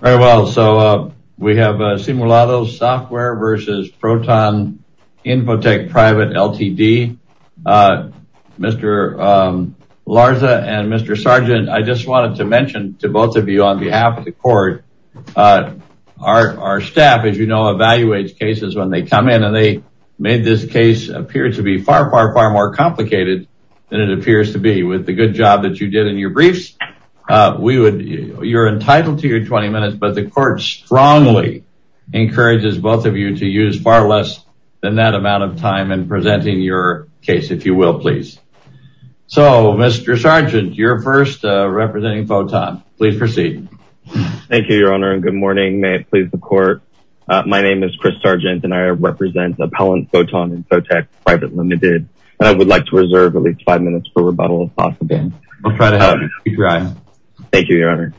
Very well, so we have Simulados Software v. Photon Infotech Private, Ltd. Mr. Larza and Mr. Sargent, I just wanted to mention to both of you on behalf of the court, our staff, as you know, evaluates cases when they come in, and they made this case appear to be far, far, far more complicated than it appears to be. With the good job that you did in your briefs, you're entitled to your 20 minutes, but the court strongly encourages both of you to use far less than that amount of time in presenting your case, if you will, please. So, Mr. Sargent, you're first, representing Photon. Please proceed. Thank you, Your Honor, and good morning. May it please the court, my name is Chris Sargent, and I represent Appellant Photon Infotech Private, Ltd., and I would like to reserve at least five minutes for rebuttal, if possible. Go ahead, speak your eyes. Thank you, Your Honor.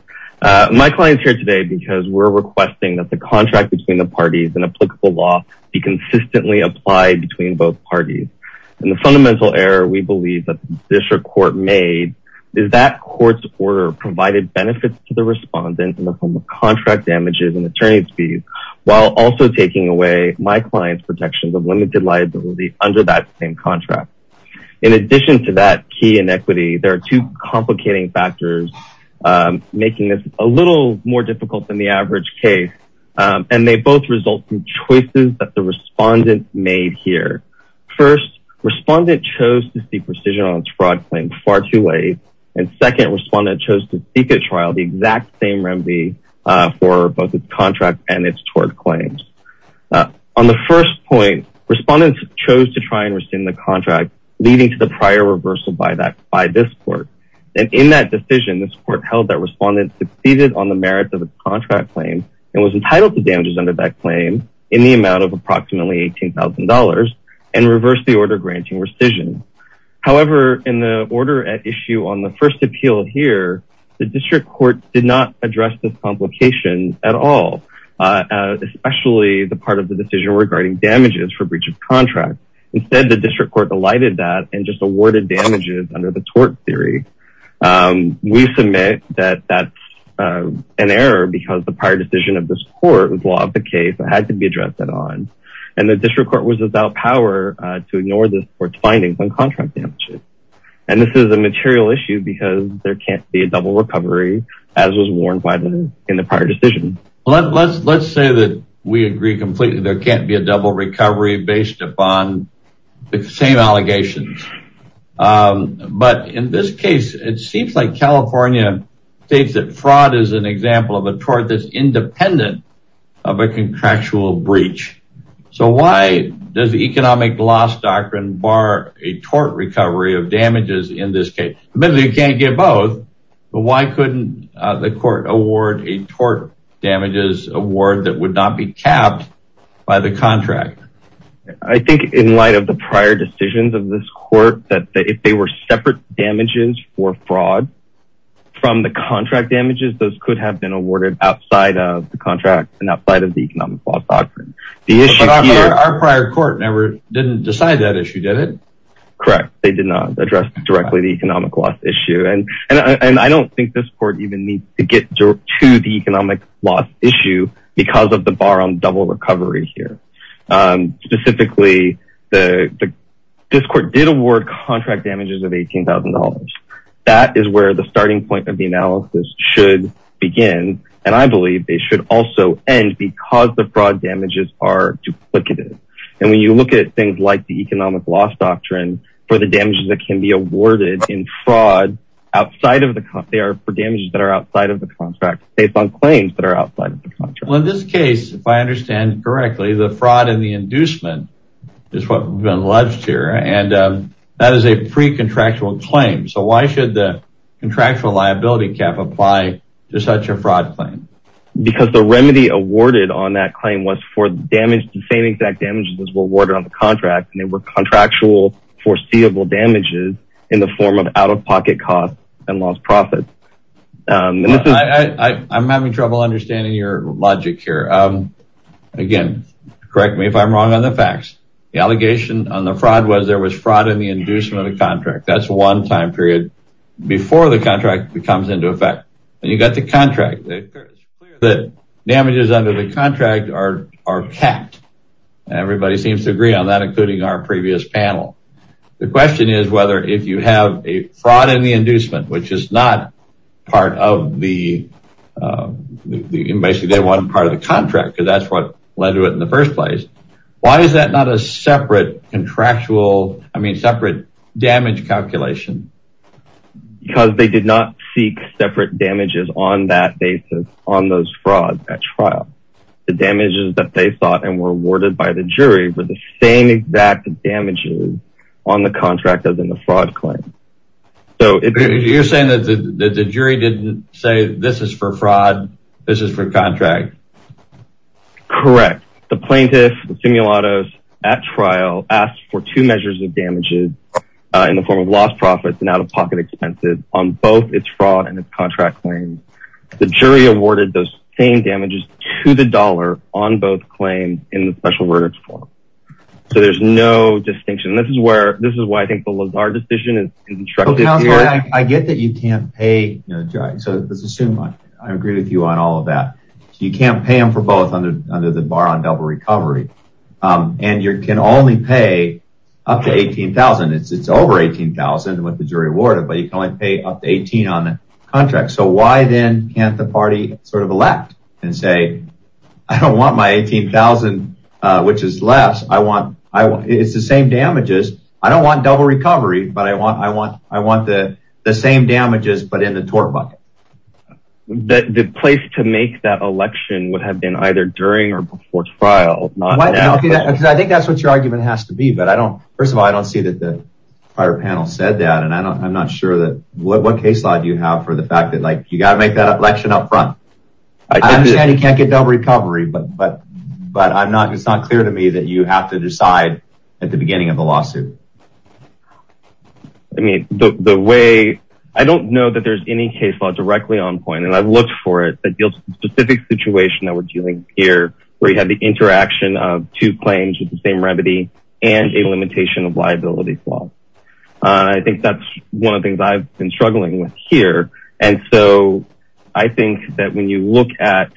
My client's here today because we're requesting that the contract between the parties and applicable law be consistently applied between both parties. And the fundamental error we believe that this court made is that court's order provided benefits to the respondent in the form of contract damages and attorney's fees, while also taking away my client's protections of limited liability under that same contract. In addition to that key inequity, there are two complicating factors making this a little more difficult than the average case, and they both result from choices that the respondent made here. First, respondent chose to seek precision on its fraud claim far too late, and second, respondent chose to seek at trial the exact same remedy for both its contract and its tort claims. On the first point, respondent chose to try and rescind the contract, leading to the prior reversal by this court. And in that decision, this court held that respondent succeeded on the merits of the contract claim and was entitled to damages under that claim in the amount of approximately $18,000 and reversed the order granting rescission. However, in the order at issue on the first appeal here, the district court did not address this complication at all, especially the part of the decision regarding damages for breach of contract. Instead, the district court delighted that and just awarded damages under the tort theory. We submit that that's an error because the prior decision of this court was law of the case that had to be addressed at odds, and the district court was without power to ignore this court's findings on contract damages. And this is a material issue because there can't be a double recovery, as was warned in the prior decision. Let's say that we agree completely there can't be a double recovery based upon the same allegations. But in this case, it seems like California states that fraud is an example of a tort that's independent of a contractual breach. So why does the economic loss doctrine bar a tort recovery of damages in this case? Admittedly, you can't get both. But why couldn't the court award a tort damages award that would not be capped by the contract? I think in light of the prior decisions of this court that if they were separate damages for fraud from the contract damages, those could have been awarded outside of the contract and outside of the economic loss doctrine. Our prior court never didn't decide that issue, did it? Correct. They did not address directly the economic loss issue. And I don't think this court even needs to get to the economic loss issue because of the bar on double recovery here. Specifically, this court did award contract damages of $18,000. That is where the starting point of the analysis should begin. And I believe they should also end because the fraud damages are duplicative. And when you look at things like the economic loss doctrine for the damages that can be awarded in fraud outside of the cost, they are for damages that are outside of the contract based on claims that are outside of the contract. Well, in this case, if I understand correctly, the fraud and the inducement is what we've been alleged here. And that is a free contractual claim. So why should the contractual liability cap apply to such a fraud claim? Because the remedy awarded on that claim was for the same exact damages that were awarded on the contract. And they were contractual foreseeable damages in the form of out-of-pocket costs and lost profits. I'm having trouble understanding your logic here. Again, correct me if I'm wrong on the facts. The allegation on the fraud was there was fraud in the inducement of the contract. That's one time period before the contract comes into effect. And you've got the contract. The damages under the contract are capped. Everybody seems to agree on that, including our previous panel. The question is whether if you have a fraud in the inducement, which is not part of the, basically they weren't part of the contract because that's what led to it in the first place. Why is that not a separate contractual, I mean, separate damage calculation? Because they did not seek separate damages on that basis on those frauds at trial. The damages that they thought and were awarded by the jury were the same exact damages on the contract as in the fraud claim. So you're saying that the jury didn't say this is for fraud, this is for contract. Correct. The plaintiff, the simulators at trial asked for two measures of damages in the form of lost profits and out-of-pocket expenses on both its fraud and its contract claims. The jury awarded those same damages to the dollar on both claims in the special verdicts form. So there's no distinction. This is where, this is why I think the Lazard decision is instructed here. I get that you can't pay. So let's assume I agree with you on all of that. You can't pay them for both under the bar on double recovery. And you can only pay up to $18,000. It's over $18,000 what the jury awarded, but you can only pay up to $18,000 on the contract. So why then can't the party sort of elect and say, I don't want my $18,000, which is less. I want, it's the same damages. I don't want double recovery, but I want the same damages, but in the tort bucket. The place to make that election would have been either during or before trial. I think that's what your argument has to be. But I don't, first of all, I don't see that the prior panel said that. And I'm not sure that what case law do you have for the fact that like you got to make that election up front. I understand you can't get double recovery, but I'm not, it's not clear to me that you have to decide at the beginning of the lawsuit. I mean, the way, I don't know that there's any case law directly on point. And I've looked for it. The specific situation that we're dealing here where you have the interaction of two claims with the same remedy and a limitation of liability. I think that's one of the things I've been struggling with here. And so I think that when you look at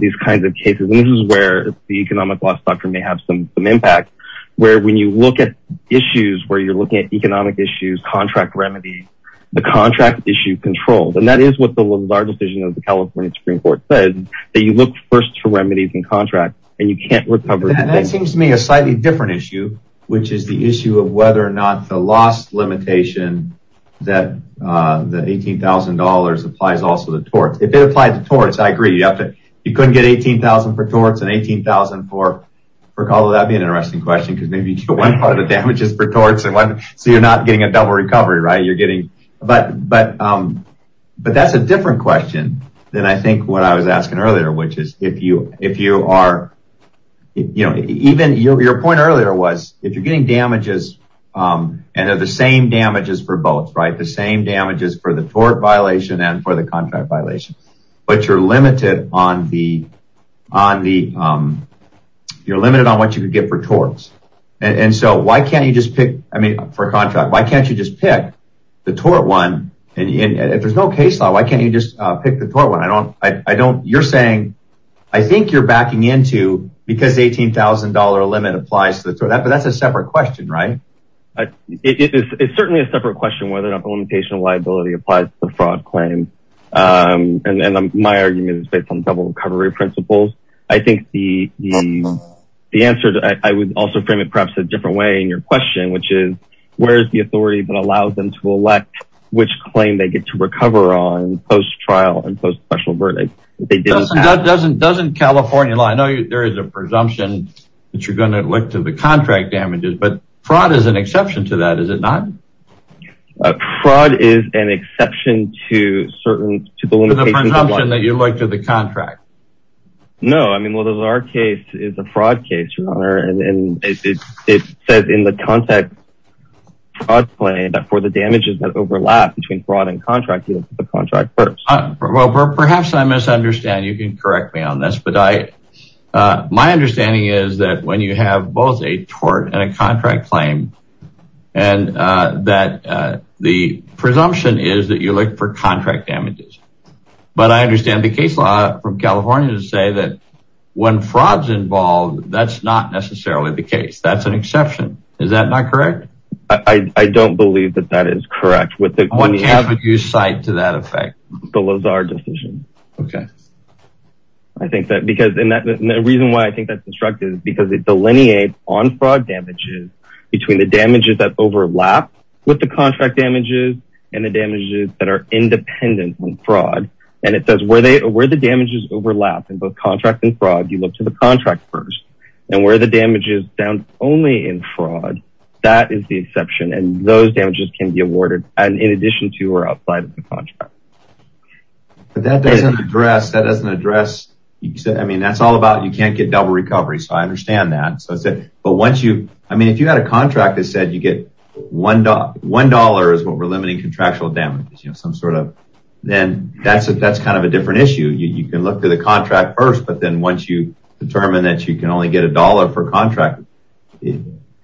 these kinds of cases, this is where the economic loss doctrine may have some impact. Where when you look at issues, where you're looking at economic issues, contract remedies, the contract issue controls. And that is what the large decision of the California Supreme Court says. That you look first for remedies and contracts and you can't recover. That seems to me a slightly different issue, which is the issue of whether or not the loss limitation that the $18,000 applies also to torts. If it applied to torts, I agree. You couldn't get $18,000 for torts and $18,000 for call. That would be an interesting question. Because maybe one part of the damage is for torts. So you're not getting a double recovery, right? But that's a different question than I think what I was asking earlier. Which is if you are, you know, even your point earlier was if you're getting damages and they're the same damages for both, right? The same damages for the tort violation and for the contract violation. But you're limited on the, you're limited on what you could get for torts. And so why can't you just pick, I mean for a contract, why can't you just pick the tort one? And if there's no case law, why can't you just pick the tort one? I don't, you're saying, I think you're backing into because $18,000 limit applies to the tort. But that's a separate question, right? It's certainly a separate question whether or not the limitation of liability applies to the fraud claim. And my argument is based on double recovery principles. I think the answer, I would also frame it perhaps a different way in your question. Which is where is the authority that allows them to elect which claim they get to recover on post trial and post special verdict. Doesn't California law, I know there is a presumption that you're going to look to the contract damages. But fraud is an exception to that, is it not? Fraud is an exception to certain, to the limitations of liability. To the presumption that you look to the contract. No, I mean, well, our case is a fraud case, your honor. And it says in the contact fraud claim that for the damages that overlap between fraud and contract, you look to the contract first. Well, perhaps I misunderstand, you can correct me on this. But my understanding is that when you have both a tort and a contract claim. And that the presumption is that you look for contract damages. But I understand the case law from California to say that when fraud is involved, that's not necessarily the case. That's an exception. Is that not correct? I don't believe that that is correct. What can you cite to that effect? The Lazar decision. Okay. I think that because the reason why I think that's destructive is because it delineates on fraud damages. Between the damages that overlap with the contract damages and the damages that are independent from fraud. And it says where the damages overlap in both contract and fraud. You look to the contract first. And where the damages down only in fraud. That is the exception. And those damages can be awarded in addition to or outside of the contract. But that doesn't address. That doesn't address. I mean, that's all about you can't get double recovery. So I understand that. But once you. I mean, if you had a contract that said you get $1 is what we're limiting contractual damages. You know, some sort of. Then that's kind of a different issue. You can look to the contract first. But then once you determine that you can only get $1 for contract.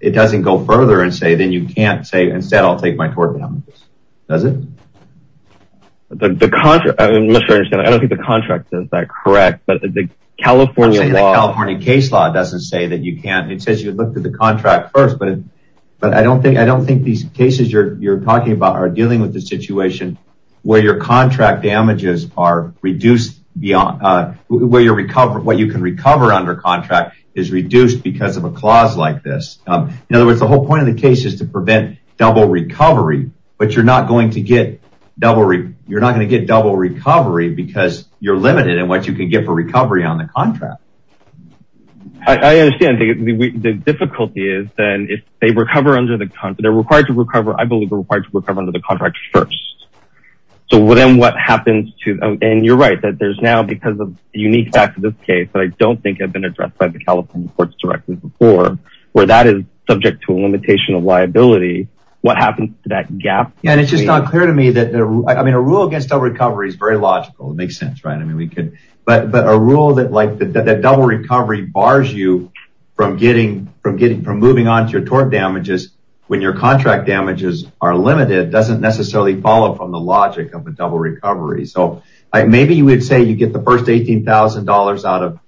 It doesn't go further and say. Then you can't say instead I'll take my tort damages. Does it? The contract. I don't think the contract says that. Correct. But the California California case law doesn't say that you can't. It says you look to the contract first. But but I don't think I don't think these cases you're you're talking about are dealing with the situation where your contract damages are reduced beyond where you recover. What you can recover under contract is reduced because of a clause like this. In other words, the whole point of the case is to prevent double recovery. But you're not going to get double. You're not going to get double recovery because you're limited in what you can get for recovery on the contract. I understand. The difficulty is then if they recover under the contract, they're required to recover. I believe we're required to recover under the contract first. So then what happens to them? And you're right that there's now because of the unique facts of this case that I don't think have been addressed by the California courts directly before where that is subject to a limitation of liability. What happens to that gap? And it's just not clear to me that I mean, a rule against recovery is very logical. It makes sense. Right. I mean, we could. But but a rule that like the double recovery bars you from getting from getting from moving on to your tort damages when your contract damages are limited doesn't necessarily follow from the logic of a double recovery. So maybe you would say you get the first eighteen thousand dollars out of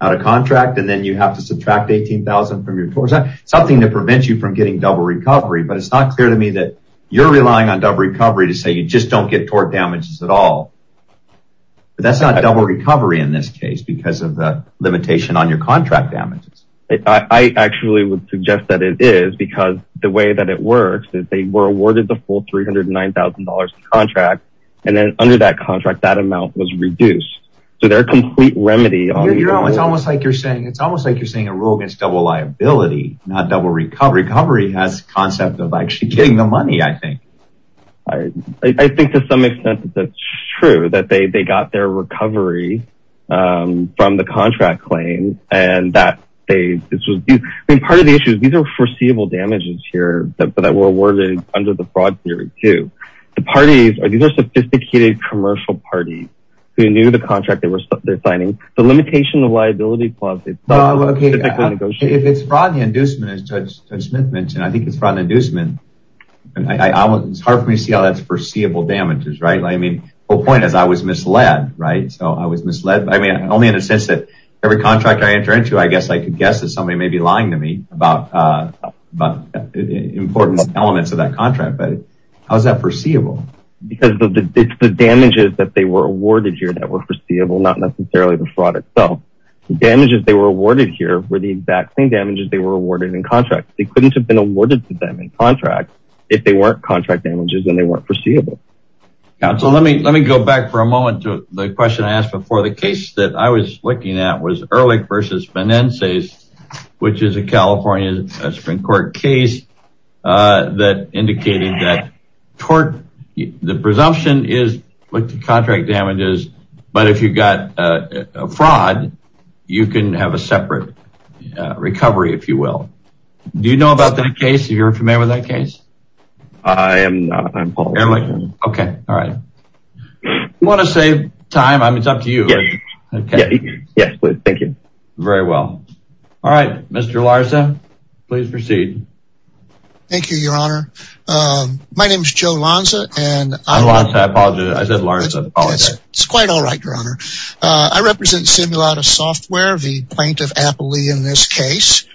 out of contract and then you have to subtract eighteen thousand from your course, something to prevent you from getting double recovery. But it's not clear to me that you're relying on recovery to say you just don't get tort damages at all. But that's not a double recovery in this case because of the limitation on your contract damages. I actually would suggest that it is because the way that it works is they were awarded the full three hundred nine thousand dollars contract. And then under that contract, that amount was reduced. So they're a complete remedy. It's almost like you're saying it's almost like you're saying a rule against double liability, not double recovery. The concept of actually getting the money, I think I think to some extent that's true, that they they got their recovery from the contract claim and that they part of the issue is these are foreseeable damages here that were awarded under the broad theory to the parties. These are sophisticated commercial parties. They knew the contract they were signing. The limitation of liability. OK, if it's fraud and inducement, as Judge Smith mentioned, I think it's fraud and inducement. And it's hard for me to see how that's foreseeable damages. Right. I mean, the point is I was misled. Right. So I was misled. I mean, only in a sense that every contract I enter into, I guess I could guess that somebody may be lying to me about important elements of that contract. But how is that foreseeable? Because the damages that they were awarded here that were foreseeable, not necessarily the fraud itself. The damages they were awarded here were the exact same damages they were awarded in contract. They couldn't have been awarded to them in contract if they weren't contract damages and they weren't foreseeable. So let me let me go back for a moment to the question I asked before. The case that I was looking at was Ehrlich versus Finances, which is a California Supreme Court case that indicated that the presumption is like the contract damages. But if you've got a fraud, you can have a separate recovery, if you will. Do you know about that case? You're familiar with that case? I am not. OK. All right. You want to save time. I mean, it's up to you. Yes. Thank you. Very well. All right. Mr. Larsa, please proceed. Thank you, Your Honor. My name is Joe Lanza. And I apologize. I said Larsa. It's quite all right, Your Honor. I represent Simulata Software, the plaintiff aptly in this case.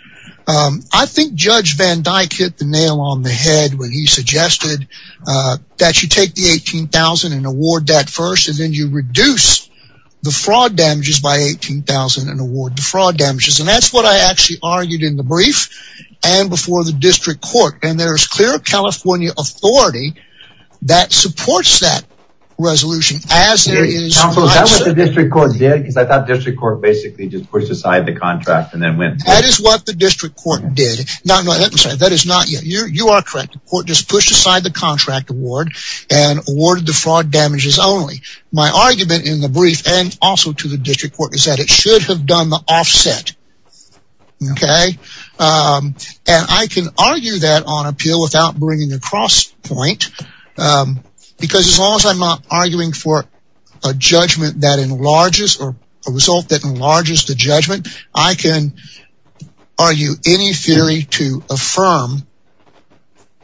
I think Judge Van Dyke hit the nail on the head when he suggested that you take the 18000 and award that first. And then you reduce the fraud damages by 18000 and award the fraud damages. And that's what I actually argued in the brief and before the district court. And there is clear California authority that supports that resolution as there is. So that was the district court. I thought district court basically just pushed aside the contract and then went. That is what the district court did. That is not you. You are correct. The court just pushed aside the contract award and awarded the fraud damages only. My argument in the brief and also to the district court is that it should have done the offset. OK. And I can argue that on appeal without bringing the cross point, because as long as I'm not arguing for a judgment that enlarges or a result that enlarges the judgment, I can argue any theory to affirm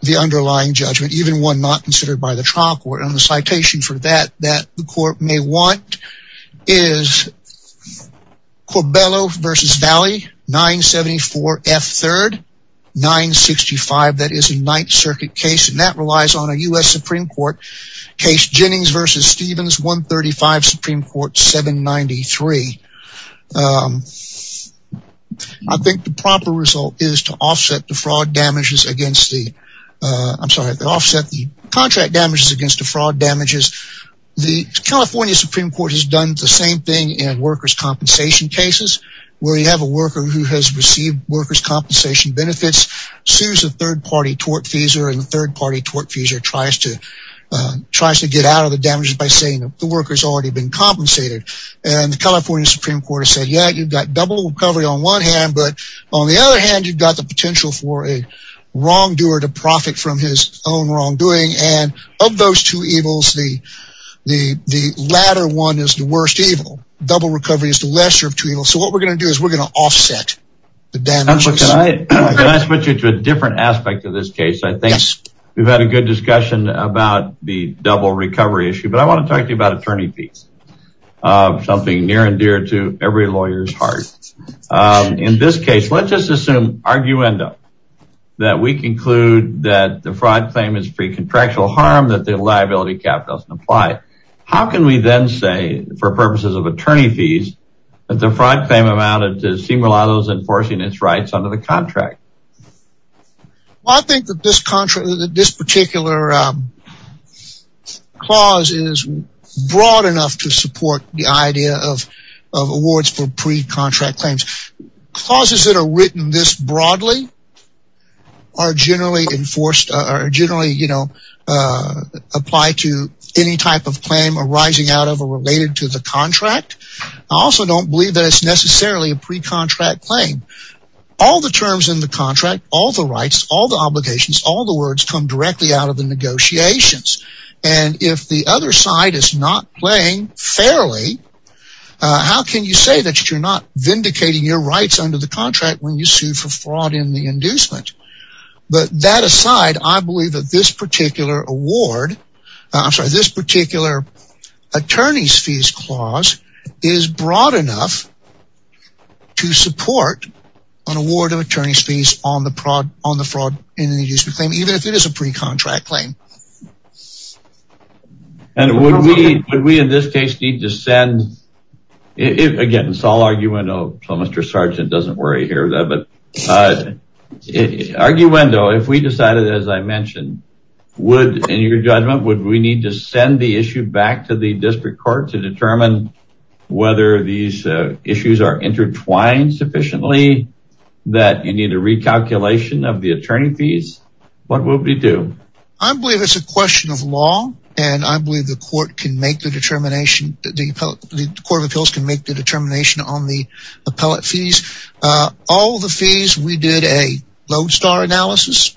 the underlying judgment, even one not considered by the trial court. And the citation for that that the court may want is Corbello versus Valley 974 F3rd 965. That is a Ninth Circuit case and that relies on a U.S. Supreme Court case. Jennings versus Stevens 135 Supreme Court 793. I think the proper result is to offset the contract damages against the fraud damages. The California Supreme Court has done the same thing in workers' compensation cases where you have a worker who has received workers' compensation benefits, sues a third party tortfeasor and the third party tortfeasor tries to get out of the damages by saying that the worker has already been compensated. And the California Supreme Court has said, yeah, you've got double recovery on one hand, but on the other hand, you've got the potential for a wrongdoer to profit from his own wrongdoing. And of those two evils, the latter one is the worst evil. Double recovery is the lesser of two evils. So what we're going to do is we're going to offset the damages. Can I switch you to a different aspect of this case? I think we've had a good discussion about the double recovery issue, but I want to talk to you about attorney fees, something near and dear to every lawyer's heart. In this case, let's just assume, arguendo, that we conclude that the fraud claim is free contractual harm, that the liability cap doesn't apply. How can we then say, for purposes of attorney fees, that the fraud claim amounted to Simulados enforcing its rights under the contract? Well, I think that this particular clause is broad enough to support the idea of awards for pre-contract claims. Clauses that are written this broadly are generally enforced, or generally apply to any type of claim arising out of or related to the contract. I also don't believe that it's necessarily a pre-contract claim. All the terms in the contract, all the rights, all the obligations, all the words, come directly out of the negotiations. And if the other side is not playing fairly, how can you say that you're not vindicating your rights under the contract when you sue for fraud in the inducement? But that aside, I believe that this particular award, I'm sorry, this particular attorney's fees clause, is broad enough to support an award of attorney's fees on the fraud in the inducement claim, even if it is a pre-contract claim. And would we, in this case, need to send, again, it's all arguendo, so Mr. Sergeant doesn't worry here, arguendo, if we decided, as I mentioned, would, in your judgment, would we need to send the issue back to the district court to determine whether these issues are intertwined sufficiently that you need a recalculation of the attorney fees? What would we do? I believe it's a question of law, and I believe the court can make the determination, the Court of Appeals can make the determination on the appellate fees. All the fees, we did a lodestar analysis,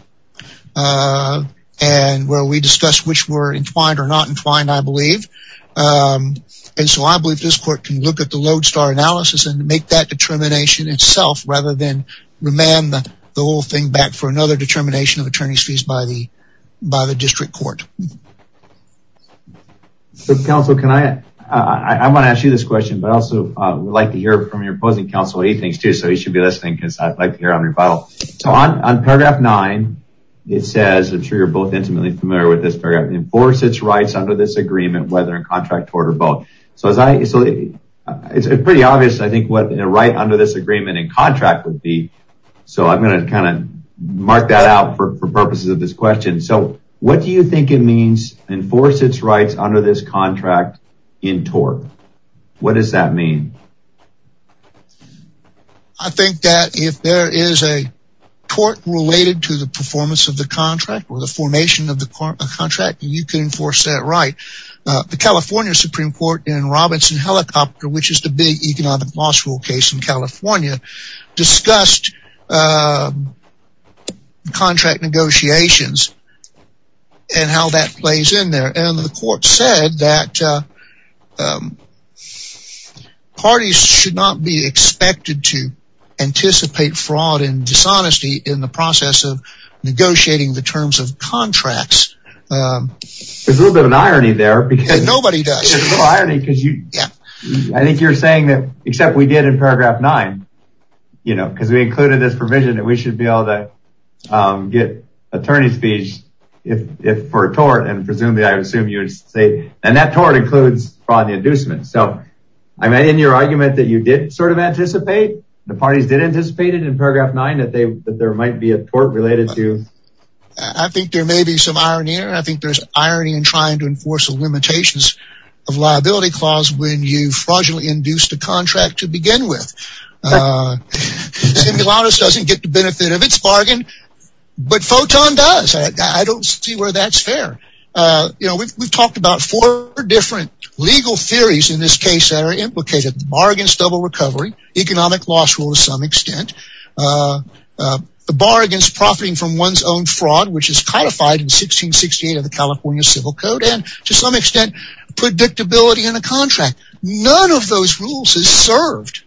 and where we discussed which were entwined or not entwined, I believe. And so I believe this court can look at the lodestar analysis and make that determination itself, rather than remand the whole thing back for another determination of attorney's fees by the district court. So, counsel, can I, I want to ask you this question, but I also would like to hear from your opposing counsel, what he thinks, too, so he should be listening, because I'd like to hear it on your file. So on paragraph 9, it says, I'm sure you're both intimately familiar with this paragraph, enforce its rights under this agreement, whether in contract, tort, or both. So it's pretty obvious, I think, what a right under this agreement in contract would be, so I'm going to kind of mark that out for purposes of this question. So what do you think it means, enforce its rights under this contract in tort? What does that mean? I think that if there is a tort related to the performance of the contract or the formation of the contract, you can enforce that right. The California Supreme Court in Robinson Helicopter, which is the big economic law school case in California, discussed contract negotiations and how that plays in there, and the court said that parties should not be expected to anticipate fraud and dishonesty in the process of negotiating the terms of contracts. There's a little bit of an irony there. Nobody does. There's a little irony because I think you're saying that, except we did in paragraph nine, you know, because we included this provision that we should be able to get attorney's fees if for a tort, and presumably I assume you would say, and that tort includes fraud and inducement. So, I mean, in your argument that you did sort of anticipate, the parties did anticipate it in paragraph nine, that there might be a tort related to... I think there may be some irony there. I think there's irony in trying to enforce the limitations of liability clause when you fraudulently induced a contract to begin with. Simulatus doesn't get the benefit of its bargain, but Photon does. I don't see where that's fair. You know, we've talked about four different legal theories in this case that are implicated. The bargain is double recovery, economic loss rule to some extent. The bargain is profiting from one's own fraud, which is codified in 1668 of the California Civil Code, and to some extent predictability in a contract. None of those rules is served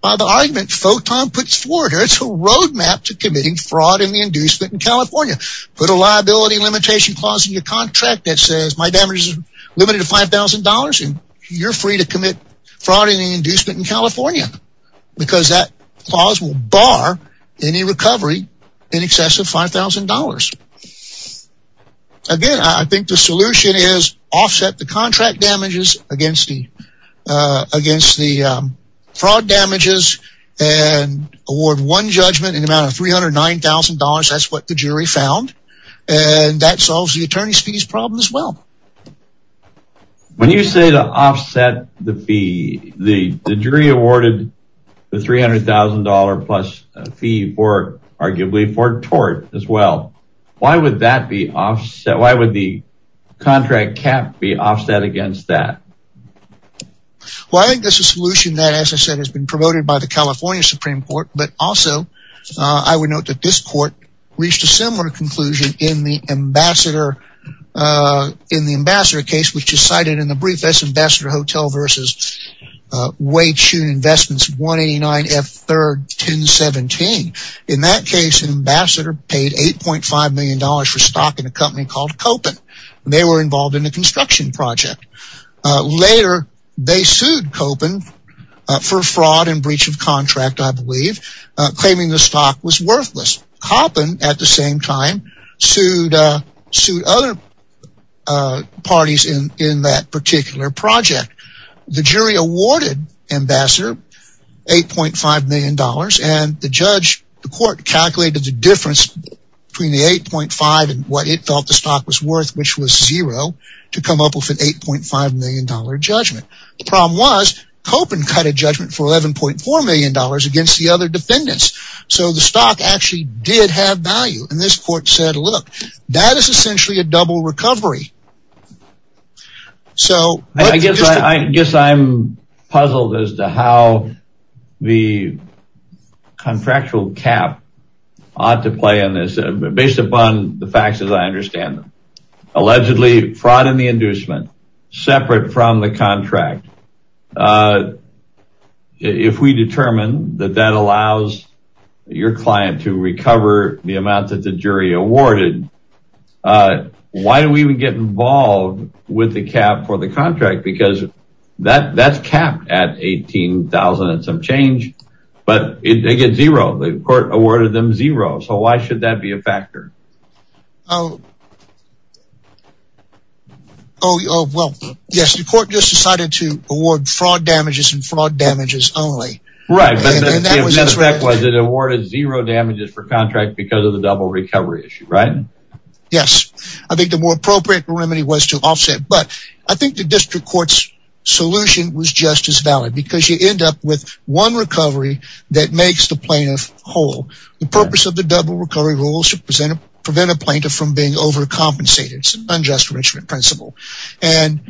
by the argument Photon puts forward. It's a roadmap to committing fraud and inducement in California. Put a liability limitation clause in your contract that says, my damages are limited to $5,000, and you're free to commit fraud and inducement in California, because that clause will bar any recovery in excess of $5,000. Again, I think the solution is offset the contract damages against the fraud damages and award one judgment in the amount of $309,000. That's what the jury found, and that solves the attorney's fees problem as well. When you say to offset the fee, the jury awarded the $300,000 plus fee for, arguably, for tort as well. Why would that be offset? Why would the contract cap be offset against that? Well, I think that's a solution that, as I said, has been promoted by the California Supreme Court, but also I would note that this court reached a similar conclusion in the ambassador case, which is cited in the brief that's Ambassador Hotel versus Weichun Investments 189F3-1017. In that case, an ambassador paid $8.5 million for stock in a company called Koppen, and they were involved in a construction project. Later, they sued Koppen for fraud and breach of contract, I believe, claiming the stock was worthless. Koppen, at the same time, sued other parties in that particular project. The jury awarded Ambassador $8.5 million, and the court calculated the difference between the $8.5 million and what it felt the stock was worth, which was zero, to come up with an $8.5 million judgment. The problem was Koppen cut a judgment for $11.4 million against the other And this court said, look, that is essentially a double recovery. I guess I'm puzzled as to how the contractual cap ought to play in this, based upon the facts as I understand them. Allegedly, fraud and the inducement, separate from the contract, if we determine that that allows your client to recover the amount that the jury awarded, why do we even get involved with the cap for the contract? Because that's capped at $18,000 and some change, but they get zero. The court awarded them zero. So why should that be a factor? Oh, well, yes, the court just decided to award fraud damages and fraud damages only. Right, but the effect was it awarded zero damages for contract because of the double recovery issue, right? Yes. I think the more appropriate remedy was to offset, but I think the district court's solution was just as valid, because you end up with one recovery that makes the plaintiff whole. The purpose of the double recovery rule is to prevent a plaintiff from being overcompensated. It's an unjust enrichment principle. And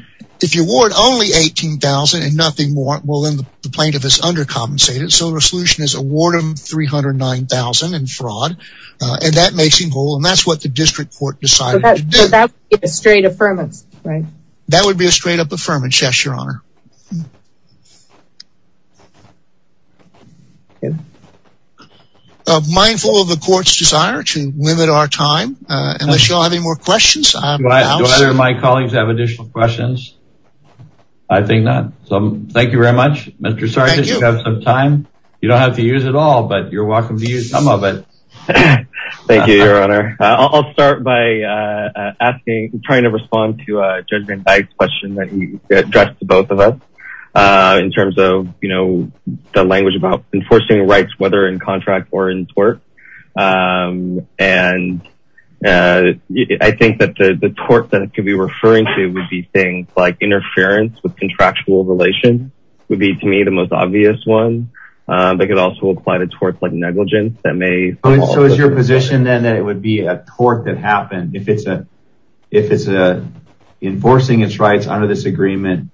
if you award only $18,000 and nothing more, well, then the plaintiff is undercompensated. So the solution is award them $309,000 in fraud, and that makes him whole, and that's what the district court decided to do. So that would be a straight affirmance, right? That would be a straight-up affirmance, yes, Your Honor. Mindful of the court's desire to limit our time, unless you all have any more questions. Do either of my colleagues have additional questions? I think not. So thank you very much, Mr. Sargent. Thank you. You have some time. You don't have to use it all, but you're welcome to use some of it. Thank you, Your Honor. I'll start by asking, trying to respond to Judge Van Dyke's question that he addressed to both of us. In terms of, you know, the language about enforcing rights, whether in contract or in tort. And I think that the tort that it could be referring to would be things like interference with contractual relations would be, to me, the most obvious one. They could also apply the tort like negligence that may- So is your position then that it would be a tort that happened if it's enforcing its rights under this agreement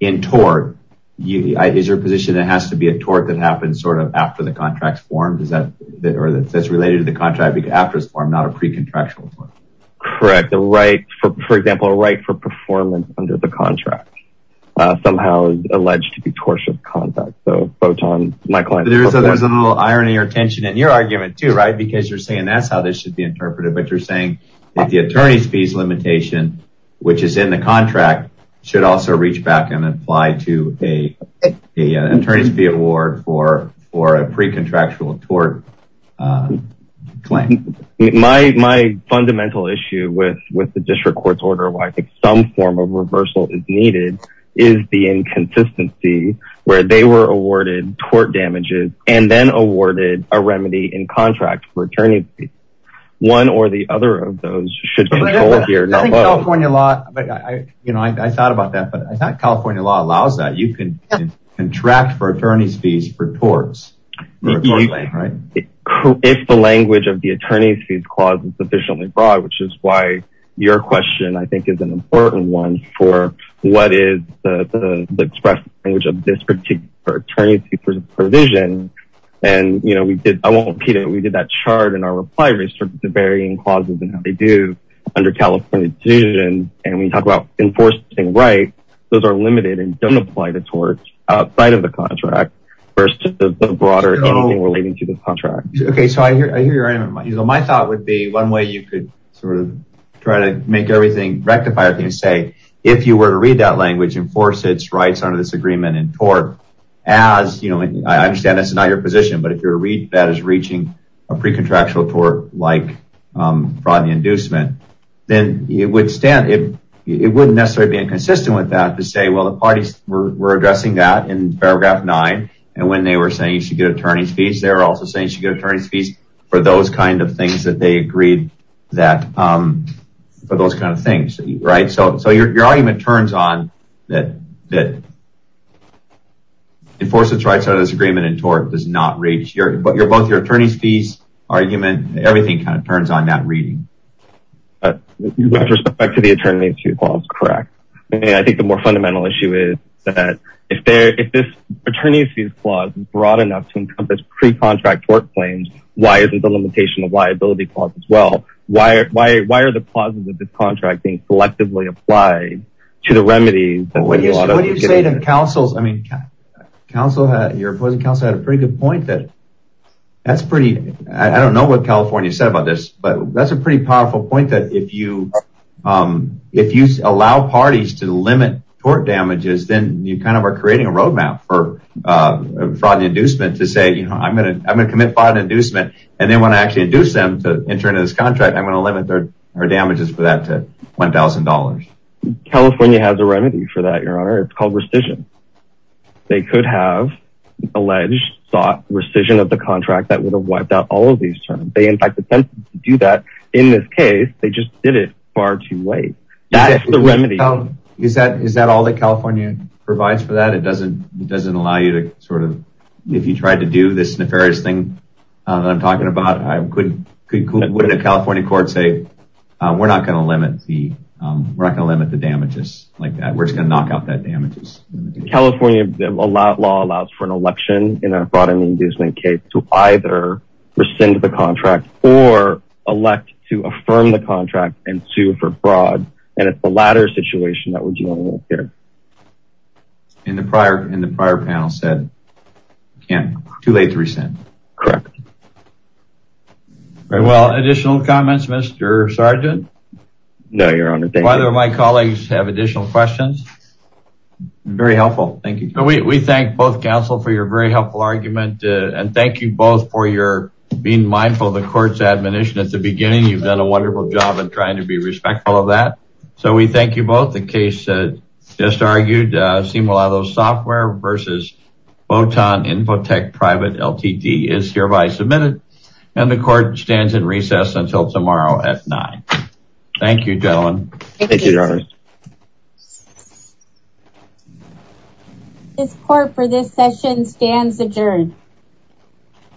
in tort? Is your position that it has to be a tort that happens sort of after the contract's formed, or that's related to the contract after it's formed, not a pre-contractual tort? Correct. A right, for example, a right for performance under the contract, somehow alleged to be tortious conduct. So both on my client- There's a little irony or tension in your argument, too, right? Because you're saying that's how this should be interpreted, but you're saying that the attorney's fees limitation, which is in the contract, should also reach back and apply to an attorney's fee award for a pre-contractual tort claim. My fundamental issue with the district court's order, where I think some form of reversal is needed, is the inconsistency where they were awarded tort damages and then awarded a remedy in contract for attorney's fees. One or the other of those should control here. I think California law, I thought about that, but I thought California law allows that. You can contract for attorney's fees for torts. If the language of the attorney's fees clause is sufficiently broad, which is why your question, I think, is an important one for what is the express language of this particular attorney's fees provision. I won't repeat it. We did that chart in our reply. We started with the varying clauses and how they do under California decision, and we talked about enforcing rights. Those are limited and don't apply to torts outside of the contract versus the broader issue relating to the contract. Okay, so I hear your argument. My thought would be one way you could try to rectify everything is say, if you were to read that language, enforce its rights under this agreement and tort as, I understand this is not your position, but if that is reaching a pre-contractual tort like fraud and inducement, then it wouldn't necessarily be inconsistent with that to say, well, the parties were addressing that in paragraph nine, and when they were saying you should get attorney's fees, they were also saying you should get attorney's fees for those kind of things that they agreed that, for those kind of things, right? So your argument turns on that enforcing rights under this agreement and tort does not reach. Both your attorney's fees argument, everything kind of turns on that reading. With respect to the attorney's fees clause, correct. I think the more fundamental issue is that if this attorney's fees clause is broad enough to encompass pre-contract tort claims, why isn't the limitation of liability clause as well? Why are the clauses of this contract being selectively applied to the remedies? What do you say to counsels? I mean, your opposing counsel had a pretty good point that that's pretty, I don't know what California said about this, but that's a pretty powerful point that if you allow parties to limit tort damages, then you kind of are creating a roadmap for fraud and inducement to say, I'm going to commit fraud and inducement and then when I actually induce them to enter into this contract, I'm going to limit their damages for that to $1,000. California has a remedy for that, Your Honor. It's called rescission. They could have alleged, sought rescission of the contract that would have wiped out all of these terms. They, in fact, attempted to do that. In this case, they just did it far too late. That's the remedy. Is that all that California provides for that? It doesn't allow you to sort of, if you tried to do this nefarious thing that I'm talking about, would a California court say, we're not going to limit the damages like that. We're just going to knock out that damages. California law allows for an election in a fraud and inducement case to either rescind the contract or elect to affirm the contract and sue for fraud, and it's the latter situation that we're dealing with here. And the prior panel said, too late to rescind. Correct. Well, additional comments, Mr. Sergeant? No, Your Honor. Do either of my colleagues have additional questions? Very helpful. Thank you. We thank both counsel for your very helpful argument, and thank you both for your being mindful of the court's admonition at the beginning. You've done a wonderful job in trying to be respectful of that. So we thank you both. The case just argued, Simulado Software versus Botan Infotech Private LTD is hereby submitted, and the court stands in recess until tomorrow at 9. Thank you, gentlemen. Thank you, Your Honor. This court for this session stands adjourned.